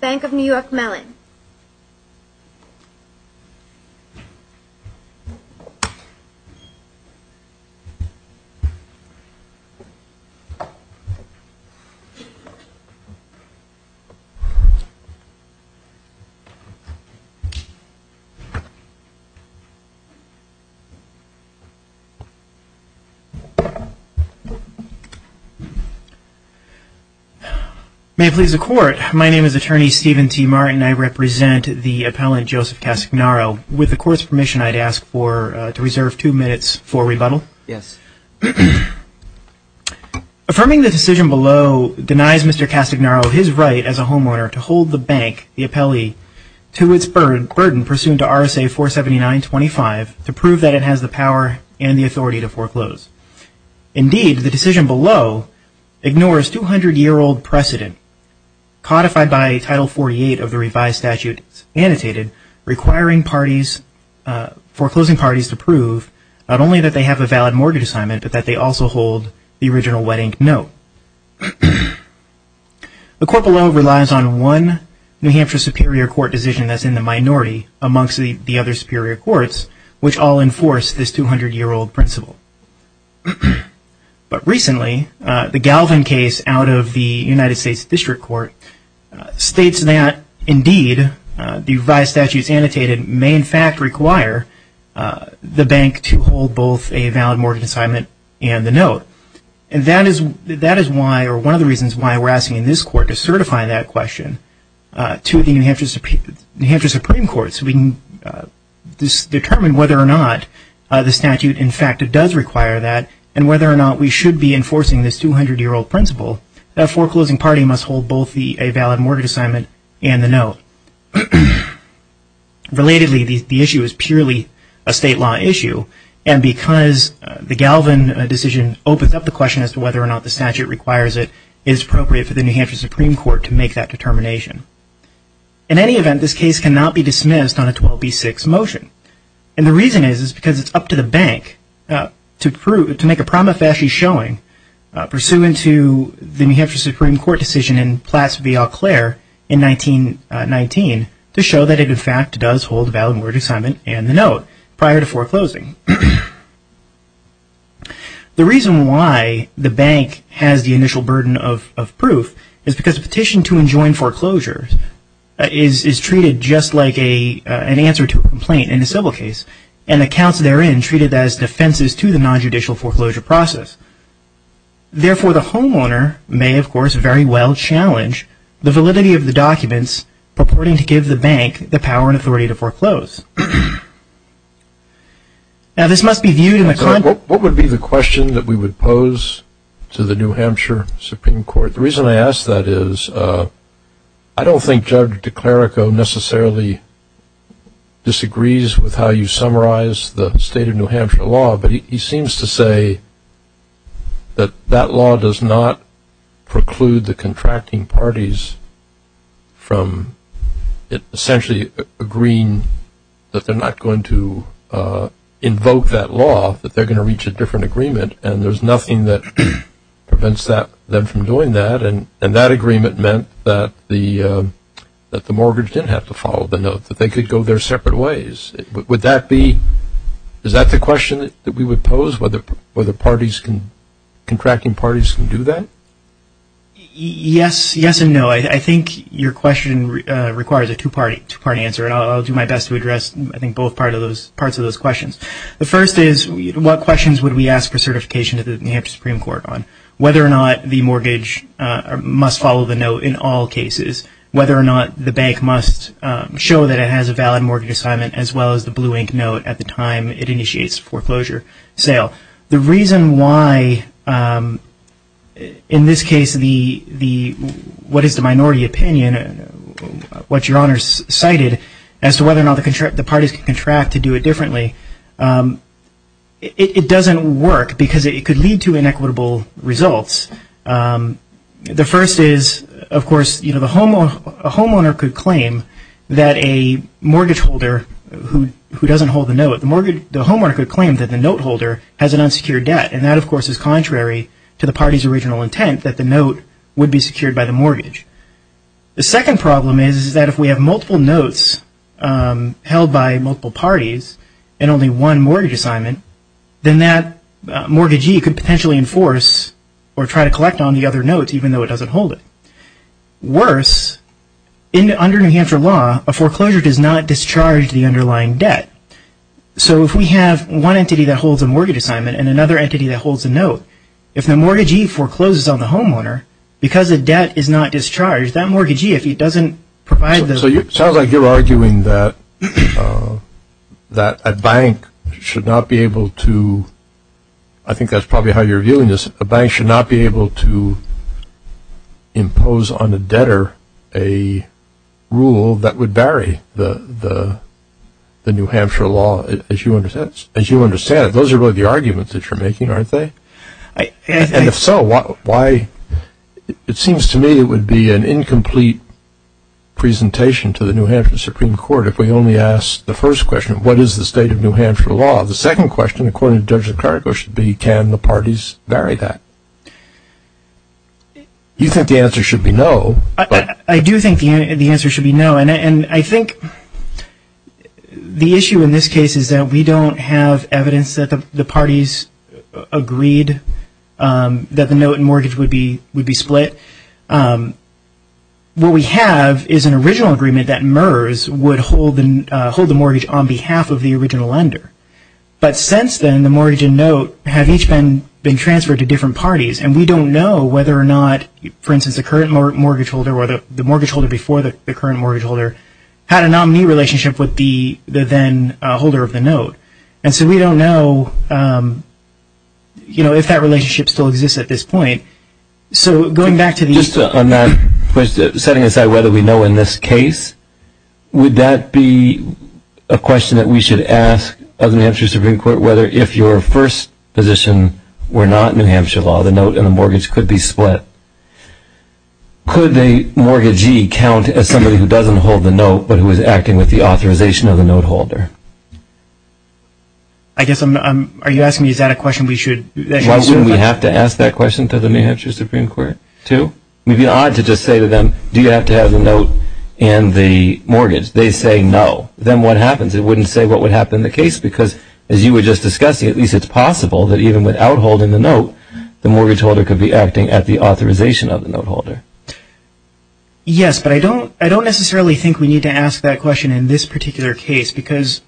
Bank of New York Mellon May it please the court. My name is attorney Steven T Martin I represent the appellant Joseph Castagnaro with the court's permission. I'd ask for to reserve two minutes for rebuttal. Yes Affirming the decision below denies. Mr Castagnaro his right as a homeowner to hold the bank the appellee to its bird burden pursuant to RSA 479 25 to prove that it has the power and the authority to foreclose Indeed the decision below ignores 200 year old precedent Codified by title 48 of the revised statutes annotated requiring parties Foreclosing parties to prove not only that they have a valid mortgage assignment, but that they also hold the original wedding. No The court below relies on one New Hampshire Superior Court decision that's in the minority amongst the other Superior Courts, which all enforced this 200 year old principle But recently the Galvin case out of the United States District Court States that indeed the revised statutes annotated may in fact require the bank to hold both a valid mortgage assignment and the note and That is that is why or one of the reasons why we're asking in this court to certify that question to the New Hampshire, New Hampshire Supreme Court, so we can Determine whether or not the statute in fact It does require that and whether or not we should be enforcing this 200 year old principle That foreclosing party must hold both the a valid mortgage assignment and the note Relatedly the issue is purely a state law issue and because The Galvin decision opens up the question as to whether or not the statute requires it is appropriate for the New Hampshire Supreme Court to make that determination in Event this case cannot be dismissed on a 12b6 motion and the reason is is because it's up to the bank to prove to make a prima facie showing pursuant to the New Hampshire Supreme Court decision in Platt's via Claire in 1919 to show that it in fact does hold valid mortgage assignment and the note prior to foreclosing The reason why the bank has the initial burden of proof is because a petition to enjoin foreclosures Is treated just like a an answer to a complaint in the civil case and the counts therein treated as defenses to the non-judicial foreclosure process Therefore the homeowner may of course very well challenge the validity of the documents purporting to give the bank the power and authority to foreclose Now this must be viewed in the club what would be the question that we would pose to the New Hampshire Supreme Court, the reason I asked that is I Don't think Judge DeClerico necessarily Disagrees with how you summarize the state of New Hampshire law, but he seems to say that that law does not preclude the contracting parties from it essentially agreeing that they're not going to Invoke that law that they're going to reach a different agreement, and there's nothing that prevents that them from doing that and and that agreement meant that the That the mortgage didn't have to follow the note that they could go their separate ways Would that be is that the question that we would pose whether whether parties can Contracting parties can do that Yes, yes, and no, I think your question requires a two-party two-party answer And I'll do my best to address I think both part of those parts of those questions The first is what questions would we ask for certification to the New Hampshire Supreme Court on whether or not the mortgage Must follow the note in all cases whether or not the bank must Show that it has a valid mortgage assignment as well as the blue ink note at the time it initiates foreclosure sale the reason why In this case the the What is the minority opinion? What your honor's cited as to whether or not the contract the parties can contract to do it differently It doesn't work because it could lead to inequitable results The first is of course, you know, the homeowner a homeowner could claim that a mortgage holder Who doesn't hold the note at the mortgage the homeowner could claim that the note holder has an unsecured debt and that of course is contrary To the party's original intent that the note would be secured by the mortgage The second problem is that if we have multiple notes held by multiple parties and only one mortgage assignment then that Mortgagee could potentially enforce or try to collect on the other notes, even though it doesn't hold it worse In under New Hampshire law a foreclosure does not discharge the underlying debt so if we have one entity that holds a mortgage assignment and another entity that holds a note if the mortgagee Forecloses on the homeowner because the debt is not discharged that mortgagee if he doesn't provide the so you sound like you're arguing that That a bank should not be able to I think that's probably how you're viewing this a bank should not be able to Impose on a debtor a rule that would vary the the The New Hampshire law as you understands as you understand it. Those are really the arguments that you're making aren't they? And if so, why? It seems to me it would be an incomplete Presentation to the New Hampshire Supreme Court if we only asked the first question What is the state of New Hampshire law the second question according to judge the clerk or should be can the parties vary that? You think the answer should be no, I do think the answer should be no and I think The issue in this case is that we don't have evidence that the parties agreed That the note and mortgage would be would be split What we have is an original agreement that MERS would hold and hold the mortgage on behalf of the original lender But since then the mortgage and note have each been been transferred to different parties And we don't know whether or not for instance the current mortgage holder or the mortgage holder before the current mortgage holder had a nominee relationship with the Then holder of the note and so we don't know You know if that relationship still exists at this point So going back to the just on that question setting aside whether we know in this case Would that be a question that we should ask of the New Hampshire Supreme Court whether if your first? Position we're not New Hampshire law the note and the mortgage could be split Could they mortgagee count as somebody who doesn't hold the note, but who is acting with the authorization of the note holder I? Asked me is that a question we should We have to ask that question to the New Hampshire Supreme Court to we'd be odd to just say to them Do you have to have a note and the mortgage they say no then what happens? It wouldn't say what would happen the case because as you were just discussing at least it's possible that even without holding the note The mortgage holder could be acting at the authorization of the note holder yes, but I don't I don't necessarily think we need to ask that question in this particular case because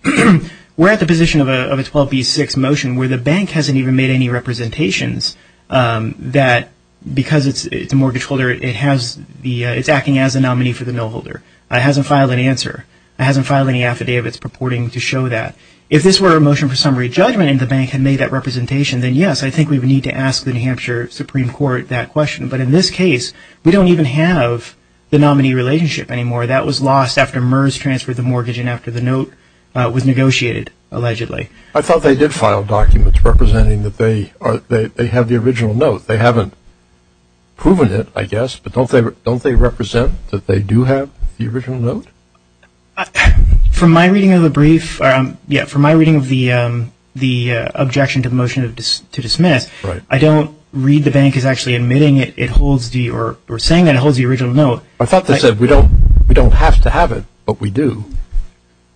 We're at the position of a 12b6 motion where the bank hasn't even made any representations That because it's it's a mortgage holder. It has the it's acting as a nominee for the no-holder. I hasn't filed an answer I hasn't filed any affidavits purporting to show that if this were a motion for summary judgment in the bank had made that representation then Yes, I think we would need to ask the New Hampshire Supreme Court that question But in this case, we don't even have the nominee relationship anymore That was lost after MERS transferred the mortgage and after the note was negotiated allegedly I thought they did file documents representing that they are they have the original note. They haven't Proven it I guess but don't they don't they represent that they do have the original note from my reading of the brief, um, yeah for my reading of the The objection to the motion of just to dismiss, right? I don't read the bank is actually admitting it it holds the or we're saying that it holds the original note I thought they said we don't we don't have to have it, but we do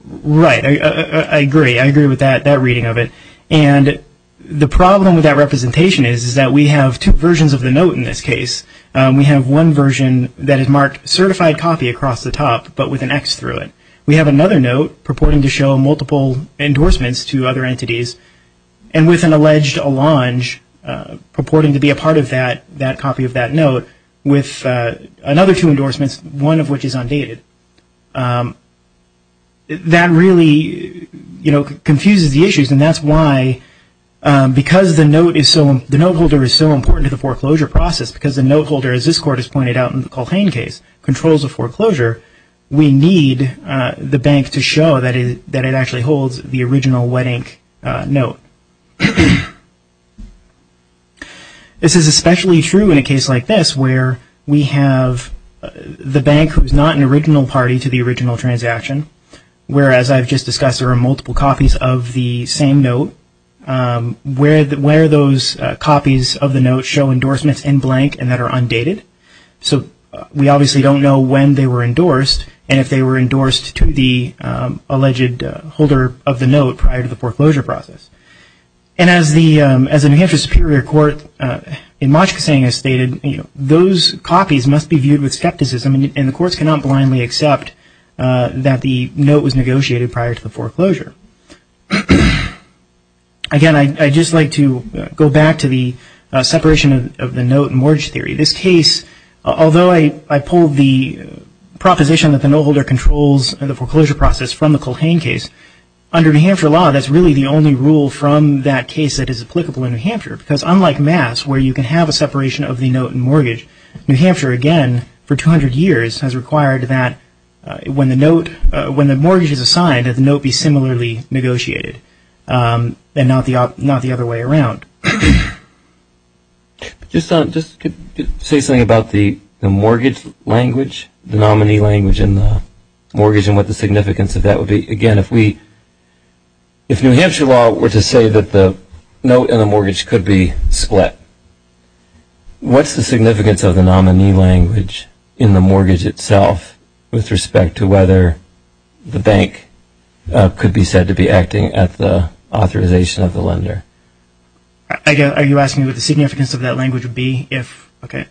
Right. I agree. I agree with that that reading of it and The problem with that representation is is that we have two versions of the note in this case We have one version that is marked certified copy across the top, but with an X through it We have another note purporting to show multiple endorsements to other entities and with an alleged a launch purporting to be a part of that that copy of that note with Another two endorsements one of which is undated That really You know confuses the issues and that's why Because the note is so the note holder is so important to the foreclosure process because the note holder as this court is pointed out in The Colthane case controls a foreclosure We need the bank to show that is that it actually holds the original wedding note This Is especially true in a case like this where we have The bank who's not an original party to the original transaction Whereas I've just discussed there are multiple copies of the same note Where that where those copies of the note show endorsements in blank and that are undated so we obviously don't know when they were endorsed and if they were endorsed to the alleged holder of the note prior to the foreclosure process and As the as an interest superior court in much saying is stated You know, those copies must be viewed with skepticism and the courts cannot blindly accept That the note was negotiated prior to the foreclosure Again I just like to go back to the separation of the note and mortgage theory this case although I I pulled the Proposition that the no holder controls and the foreclosure process from the Colthane case Under New Hampshire law That's really the only rule from that case that is applicable in New Hampshire because unlike mass where you can have a separation of the note And mortgage New Hampshire again for 200 years has required that When the note when the mortgage is assigned at the note be similarly negotiated And not the not the other way around Just on just could say something about the the mortgage language the nominee language in the mortgage and what the significance of that would be again if we If New Hampshire law were to say that the note and the mortgage could be split What's the significance of the nominee language in the mortgage itself with respect to whether? the bank could be said to be acting at the authorization of the lender I Guess are you asking what the significance of that language would be if okay?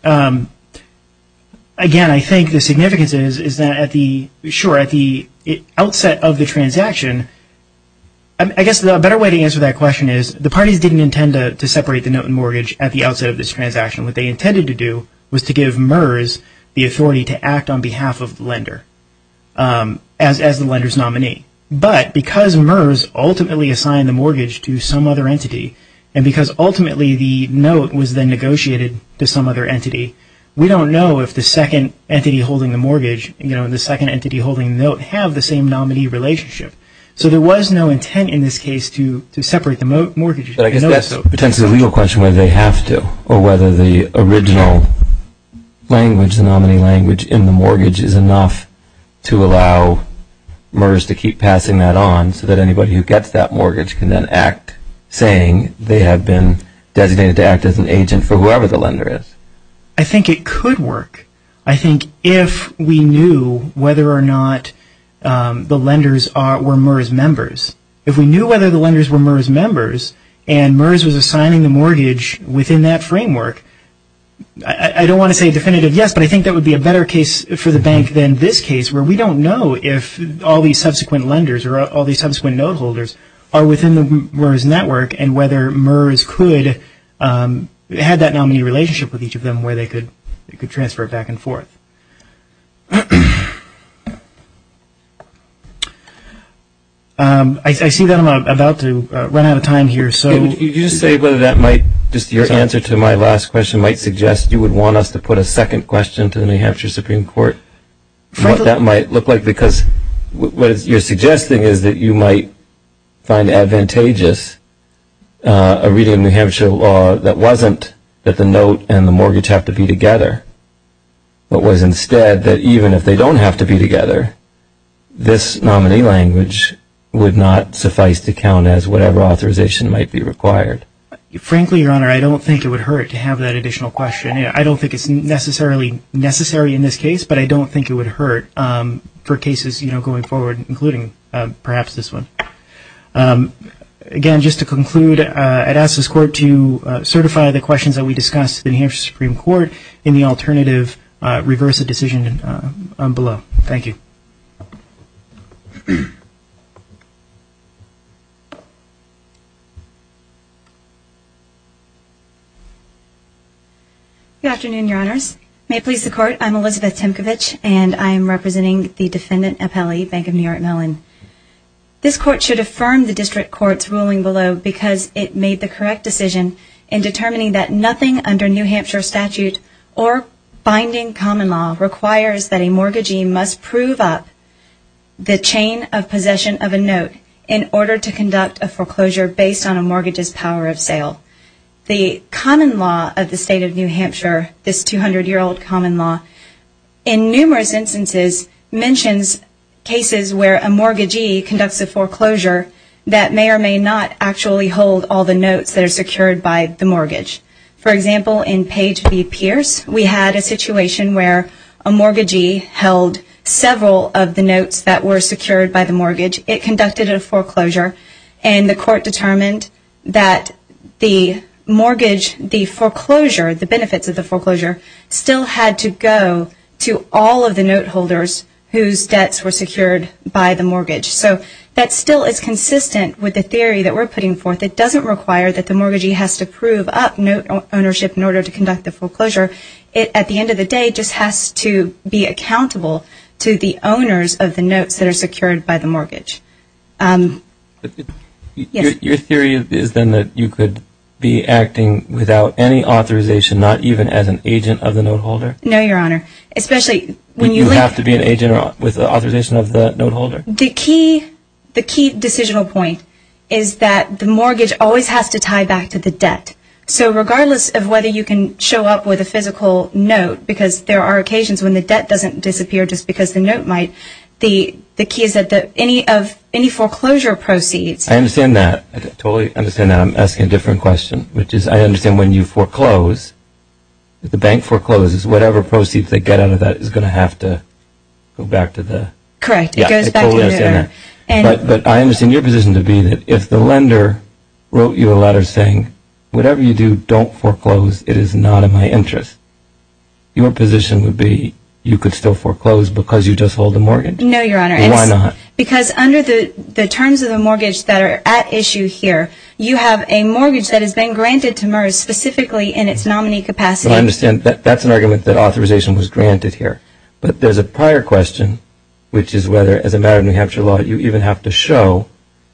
Again I think the significance is is that at the sure at the outset of the transaction I guess the better way to answer that question is the parties didn't intend to separate the note and mortgage at the outset of this Transaction what they intended to do was to give MERS the authority to act on behalf of lender as as the lenders nominee but because MERS ultimately assigned the mortgage to some other entity and because ultimately the note was then negotiated to some other entity We don't know if the second entity holding the mortgage, you know, the second entity holding note have the same nominee relationship So there was no intent in this case to to separate the mortgage But I guess that's a potential legal question where they have to or whether the original Language the nominee language in the mortgage is enough to allow MERS to keep passing that on so that anybody who gets that mortgage can then act Saying they have been designated to act as an agent for whoever the lender is. I think it could work I think if we knew whether or not The lenders are were MERS members if we knew whether the lenders were MERS members and MERS was assigning the mortgage within that framework I Don't want to say definitive Yes but I think that would be a better case for the bank than this case where we don't know if All these subsequent lenders or all these subsequent note holders are within the MERS network and whether MERS could Had that nominee relationship with each of them where they could it could transfer it back and forth I See that I'm about to run out of time here So you say whether that might just your answer to my last question might suggest you would want us to put a second question to the New Hampshire Supreme Court What that might look like because what you're suggesting is that you might? find advantageous A reading of New Hampshire law that wasn't that the note and the mortgage have to be together What was instead that even if they don't have to be together? This nominee language would not suffice to count as whatever authorization might be required Frankly your honor. I don't think it would hurt to have that additional question I don't think it's necessarily necessary in this case, but I don't think it would hurt For cases, you know going forward including perhaps this one Again just to conclude I'd ask this court to Certify the questions that we discussed in here Supreme Court in the alternative Reverse a decision Below thank you Good afternoon your honors may please the court. I'm Elizabeth Tinkovich, and I am representing the defendant appellee Bank of New York Mellon this court should affirm the district courts ruling below because it made the correct decision in determining that nothing under New Hampshire statute or Binding common law requires that a mortgagee must prove up The chain of possession of a note in order to conduct a foreclosure based on a mortgage's power of sale the common law of the state of New Hampshire this 200 year old common law in numerous instances mentions cases where a mortgagee conducts a foreclosure that May or may not actually hold all the notes that are secured by the mortgage For example in page B Pierce We had a situation where a mortgagee held several of the notes that were secured by the mortgage it conducted a foreclosure and the court determined that the Mortgage the foreclosure the benefits of the foreclosure still had to go to all of the note holders Whose debts were secured by the mortgage so that still is consistent with the theory that we're putting forth It doesn't require that the mortgagee has to prove up note ownership in order to conduct the foreclosure It at the end of the day just has to be accountable to the owners of the notes that are secured by the mortgage Your theory is then that you could be acting without any authorization not even as an agent of the note holder No, your honor, especially when you have to be an agent with the authorization of the note holder The key the key decisional point is that the mortgage always has to tie back to the debt so regardless of whether you can show up with a physical note because there are occasions when the debt doesn't disappear just because the note might The the key is that the any of any foreclosure proceeds I understand that I totally understand that I'm asking a different question Which is I understand when you foreclose The bank forecloses whatever proceeds they get out of that is gonna have to go back to the correct But but I understand your position to be that if the lender wrote you a letter saying whatever you do don't foreclose It is not in my interest Your position would be you could still foreclose because you just hold the mortgage No, your honor Why not because under the the terms of the mortgage that are at issue here you have a mortgage that has been granted to merge Specifically in its nominee capacity. I understand that that's an argument that authorization was granted here But there's a prior question, which is whether as a matter of New Hampshire law You even have to show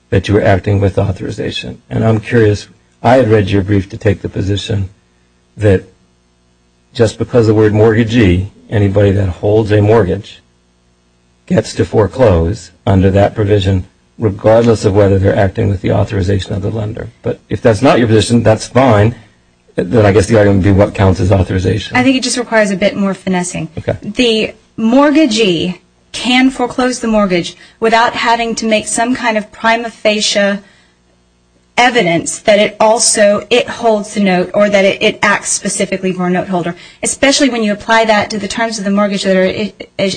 that you were acting with authorization and I'm curious. I have read your brief to take the position that Just because the word mortgagee anybody that holds a mortgage Gets to foreclose under that provision Regardless of whether they're acting with the authorization of the lender, but if that's not your position, that's fine Then I guess the item be what counts as authorization. I think it just requires a bit more finessing the Mortgagee can foreclose the mortgage without having to make some kind of prima facie Evidence that it also it holds the note or that it acts specifically for a note holder especially when you apply that to the terms of the mortgage that are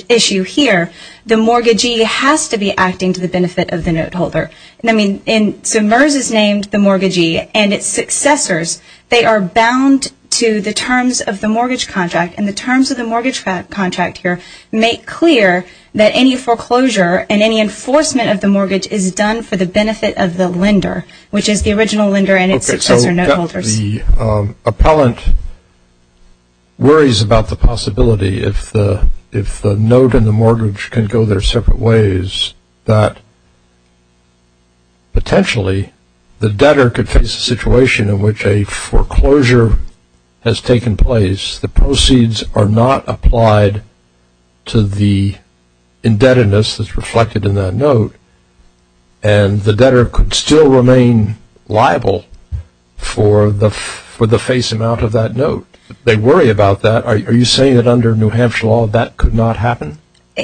Issue here the mortgagee has to be acting to the benefit of the note holder And I mean in summers is named the mortgagee and its successors They are bound to the terms of the mortgage contract and the terms of the mortgage contract here make clear that any Foreclosure and any enforcement of the mortgage is done for the benefit of the lender, which is the original lender and its successor note holders appellant worries about the possibility if the if the note and the mortgage can go their separate ways that Potentially the debtor could face a situation in which a foreclosure Has taken place the proceeds are not applied to the indebtedness that's reflected in that note and The debtor could still remain liable For the for the face amount of that note they worry about that Are you saying that under New Hampshire law that could not happen?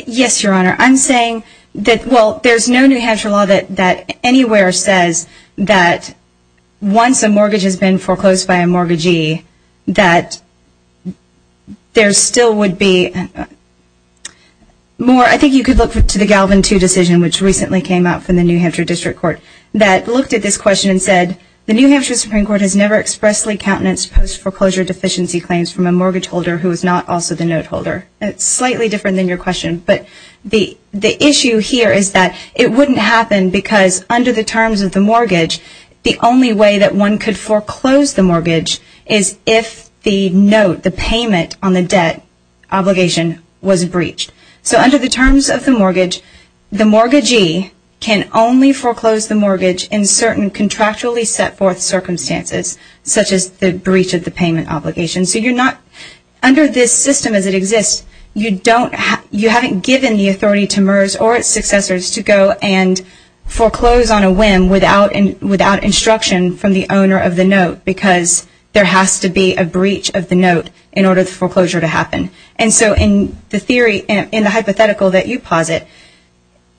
Yes, your honor I'm saying that well, there's no New Hampshire law that that anywhere says that once a mortgage has been foreclosed by a mortgagee that There still would be More I think you could look to the Galvin to decision which recently came out from the New Hampshire District Court that looked at this Question and said the New Hampshire Supreme Court has never expressly countenance post foreclosure deficiency claims from a mortgage holder Who is not also the note holder? It's slightly different than your question But the the issue here is that it wouldn't happen because under the terms of the mortgage The only way that one could foreclose the mortgage is if the note the payment on the debt Obligation was breached. So under the terms of the mortgage the mortgagee can only foreclose the mortgage in certain Contractually set forth circumstances such as the breach of the payment obligation. So you're not under this system as it exists, you don't have you haven't given the authority to MERS or its successors to go and foreclose on a whim without and without instruction from the owner of the note because There has to be a breach of the note in order the foreclosure to happen And so in the theory in the hypothetical that you posit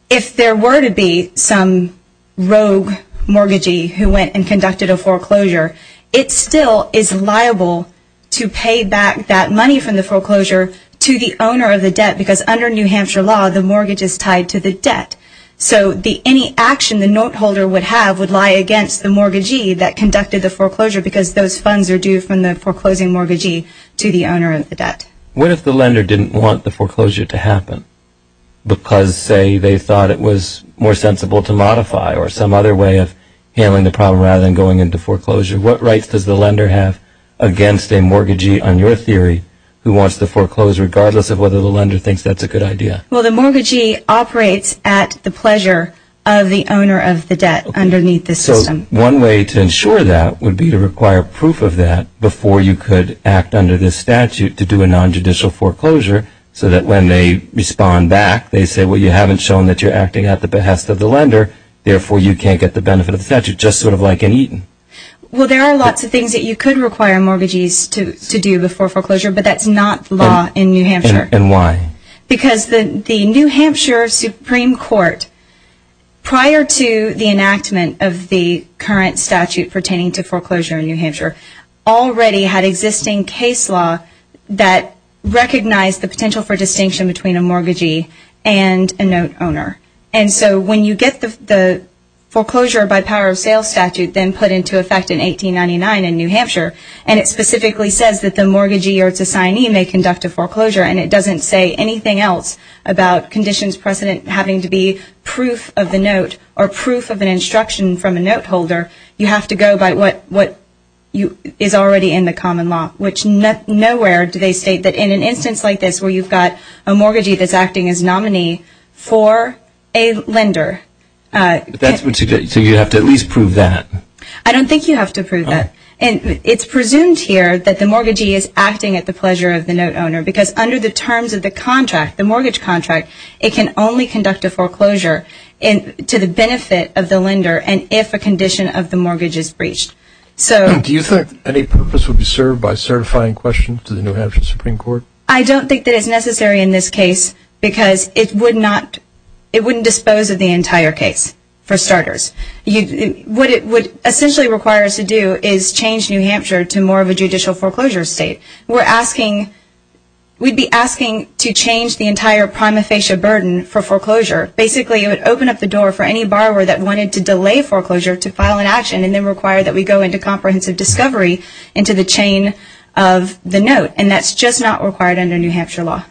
if there were to be some Mortgagee who went and conducted a foreclosure It still is liable to pay back that money from the foreclosure To the owner of the debt because under New Hampshire law the mortgage is tied to the debt so the any action the note holder would have would lie against the mortgagee that conducted the foreclosure because those funds are due from the Foreclosing mortgagee to the owner of the debt. What if the lender didn't want the foreclosure to happen? Because say they thought it was more sensible to modify or some other way of Handling the problem rather than going into foreclosure. What rights does the lender have? Against a mortgagee on your theory who wants to foreclose regardless of whether the lender thinks that's a good idea Well, the mortgagee operates at the pleasure of the owner of the debt underneath the system one way to ensure that would be to require proof of that before you could act under this statute to do a Bond-back they say well you haven't shown that you're acting at the behest of the lender Therefore you can't get the benefit of the statute just sort of like in Eaton Well, there are lots of things that you could require mortgagees to do before foreclosure, but that's not law in New Hampshire And why because the the New Hampshire Supreme Court? prior to the enactment of the current statute pertaining to foreclosure in New Hampshire already had existing case law that Recognized the potential for distinction between a mortgagee and a note owner. And so when you get the foreclosure by power of sales statute then put into effect in 1899 in New Hampshire And it specifically says that the mortgagee or its assignee may conduct a foreclosure and it doesn't say anything else About conditions precedent having to be proof of the note or proof of an instruction from a note holder You have to go by what what you is already in the common law Nowhere do they state that in an instance like this where you've got a mortgagee that's acting as nominee for a lender That's what you get. So you have to at least prove that I don't think you have to prove that and It's presumed here that the mortgagee is acting at the pleasure of the note owner because under the terms of the contract the mortgage contract It can only conduct a foreclosure And to the benefit of the lender and if a condition of the mortgage is breached So do you think any purpose would be served by certifying questions to the New Hampshire Supreme Court? I don't think that is necessary in this case because it would not it wouldn't dispose of the entire case for starters You what it would essentially requires to do is change, New Hampshire to more of a judicial foreclosure state. We're asking We'd be asking to change the entire prima facie burden for foreclosure Basically, it would open up the door for any borrower that wanted to delay foreclosure to file an action and then require that we go into comprehensive discovery into the chain of The note and that's just not required under New Hampshire law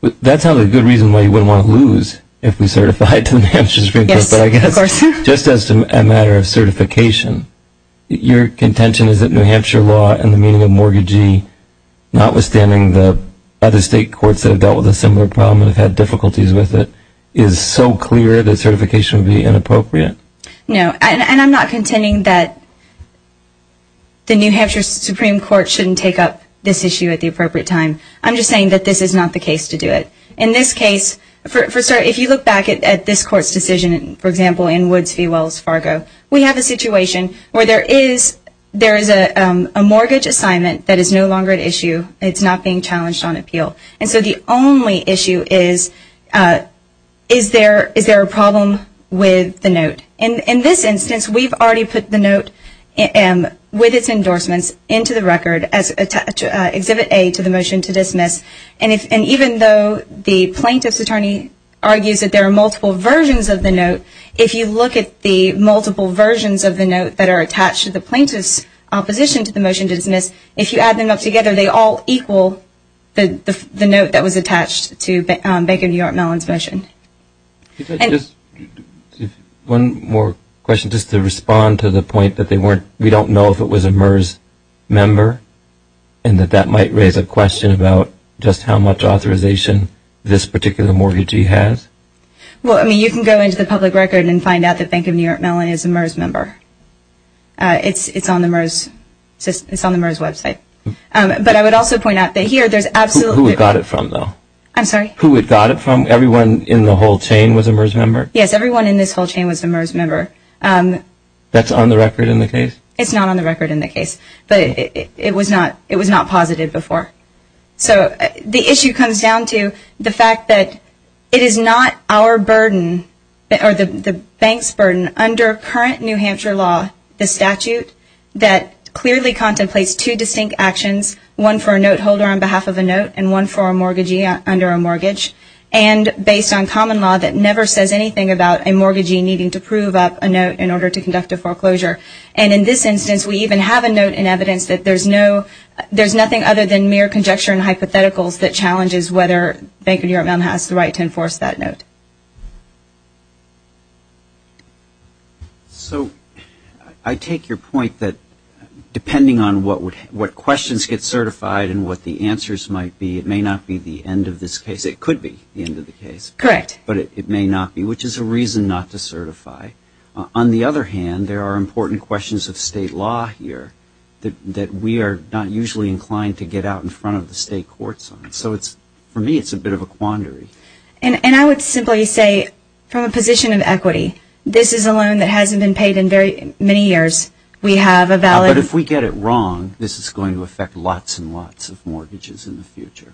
That's not a good reason why you wouldn't want to lose if we certified to the Hampshire Supreme Court But I guess just as a matter of certification Your contention is that New Hampshire law and the meaning of mortgagee Notwithstanding the other state courts that have dealt with a similar problem and have had difficulties with it is So clear that certification would be inappropriate No, and I'm not contending that The New Hampshire Supreme Court shouldn't take up this issue at the appropriate time I'm just saying that this is not the case to do it in this case For sir, if you look back at this court's decision, for example in Woods v Wells Fargo We have a situation where there is there is a mortgage assignment that is no longer at issue It's not being challenged on appeal. And so the only issue is Is there is there a problem with the note and in this instance, we've already put the note and with its endorsements into the record as Exhibit a to the motion to dismiss and if and even though the plaintiff's attorney argues that there are multiple versions of the note if you look at the Multiple versions of the note that are attached to the plaintiff's opposition to the motion to dismiss if you add them up together They all equal the the note that was attached to Bank of New York Mellon's motion One more question just to respond to the point that they weren't we don't know if it was a MERS member and That that might raise a question about just how much authorization this particular mortgagee has Well, I mean you can go into the public record and find out that Bank of New York Mellon is a MERS member It's it's on the MERS It's on the MERS website But I would also point out that here there's absolutely got it from though I'm sorry who it got it from everyone in the whole chain was a MERS member. Yes, everyone in this whole chain was a MERS member That's on the record in the case. It's not on the record in the case, but it was not it was not positive before So the issue comes down to the fact that it is not our burden Or the the bank's burden under current, New Hampshire law the statute that clearly contemplates two distinct actions one for a note holder on behalf of a note and one for a mortgagee under a mortgage and based on common law that never says anything about a mortgagee needing to prove up a note in order to conduct a foreclosure and In this instance, we even have a note in evidence that there's no there's nothing other than mere conjecture and hypotheticals that challenges whether Bank of New York Mellon has the right to enforce that note So I take your point that Depending on what would what questions get certified and what the answers might be It may not be the end of this case It could be the end of the case correct, but it may not be which is a reason not to certify On the other hand there are important questions of state law here That we are not usually inclined to get out in front of the state courts on so it's for me It's a bit of a quandary and and I would simply say From a position of equity. This is a loan that hasn't been paid in very many years We have a valid if we get it wrong. This is going to affect lots and lots of mortgages in the future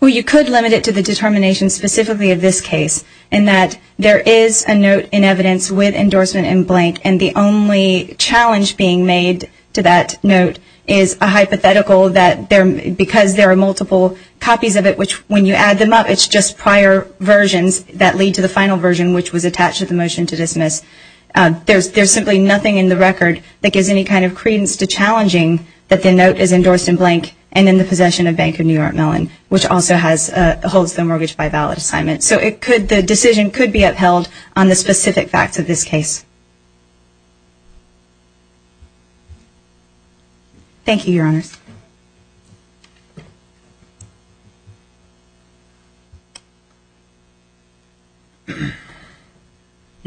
Well, you could limit it to the determination specifically of this case and that there is a note in evidence with endorsement in blank And the only challenge being made to that note is a hypothetical that there because there are multiple Copies of it which when you add them up It's just prior versions that lead to the final version which was attached to the motion to dismiss There's there's simply nothing in the record that gives any kind of credence to Challenging that the note is endorsed in blank and in the possession of Bank of New York Mellon Which also has holds the mortgage by valid assignment so it could the decision could be upheld on the specific facts of this case Thank you your honors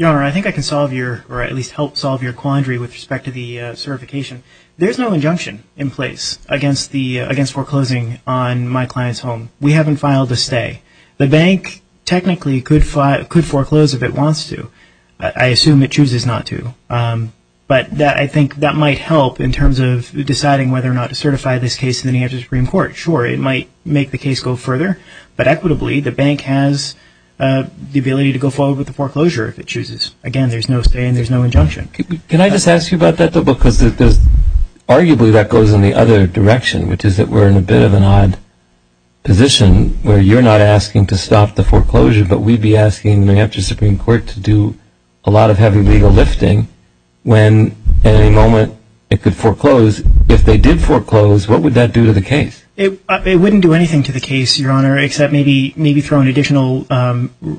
I Think I can solve your or at least help solve your quandary with respect to the certification There's no injunction in place against the against foreclosing on my client's home We haven't filed a stay the bank technically could fight could foreclose if it wants to I assume it chooses not to But that I think that might help in terms of deciding whether or not to certify this case in the New Hampshire Supreme Court Sure, it might make the case go further, but equitably the bank has The ability to go forward with the foreclosure if it chooses again, there's no stay and there's no injunction Can I just ask you about that though because there's arguably that goes in the other direction, which is that we're in a bit of an odd Position where you're not asking to stop the foreclosure But we'd be asking the New Hampshire Supreme Court to do a lot of heavy legal lifting When at any moment it could foreclose if they did foreclose what would that do to the case? It wouldn't do anything to the case your honor except maybe maybe throw an additional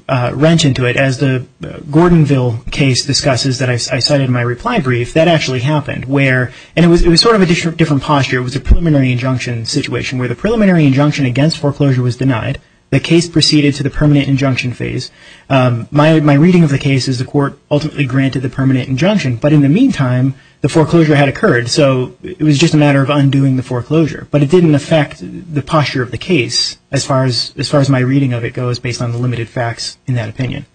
wrench into it as the Gordonville case discusses that I cited my reply brief that actually happened where and it was sort of a different posture It was a preliminary injunction situation where the preliminary injunction against foreclosure was denied the case proceeded to the permanent injunction phase My reading of the case is the court ultimately granted the permanent injunction But in the meantime the foreclosure had occurred so it was just a matter of undoing the foreclosure But it didn't affect the posture of the case as far as as far as my reading of it goes based on the limited facts In that opinion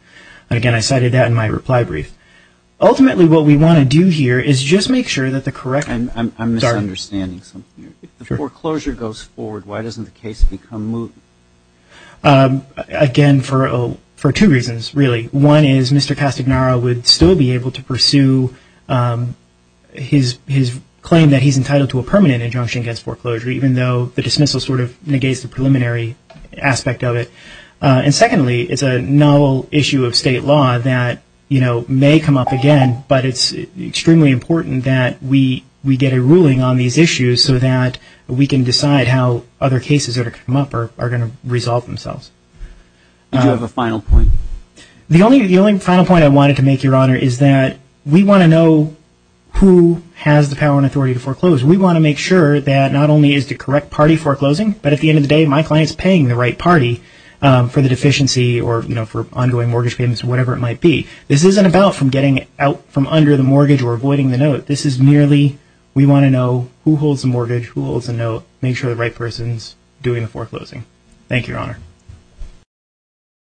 and again, I cited that in my reply brief Ultimately, what we want to do here is just make sure that the correct and I'm understanding something the foreclosure goes forward Why doesn't the case become move? Again for oh for two reasons really one is mr. Castagnaro would still be able to pursue His his claim that he's entitled to a permanent injunction against foreclosure Even though the dismissal sort of negates the preliminary aspect of it And secondly, it's a novel issue of state law that you know may come up again But it's extremely important that we we get a ruling on these issues so that We can decide how other cases are to come up or are going to resolve themselves You have a final point The only the only final point I wanted to make your honor is that we want to know Who has the power and authority to foreclose? We want to make sure that not only is the correct party foreclosing But at the end of the day my clients paying the right party For the deficiency or you know for ongoing mortgage payments or whatever it might be This isn't about from getting out from under the mortgage or avoiding the note This is merely we want to know who holds the mortgage who holds a note make sure the right person's doing the foreclosing Thank you, Your Honor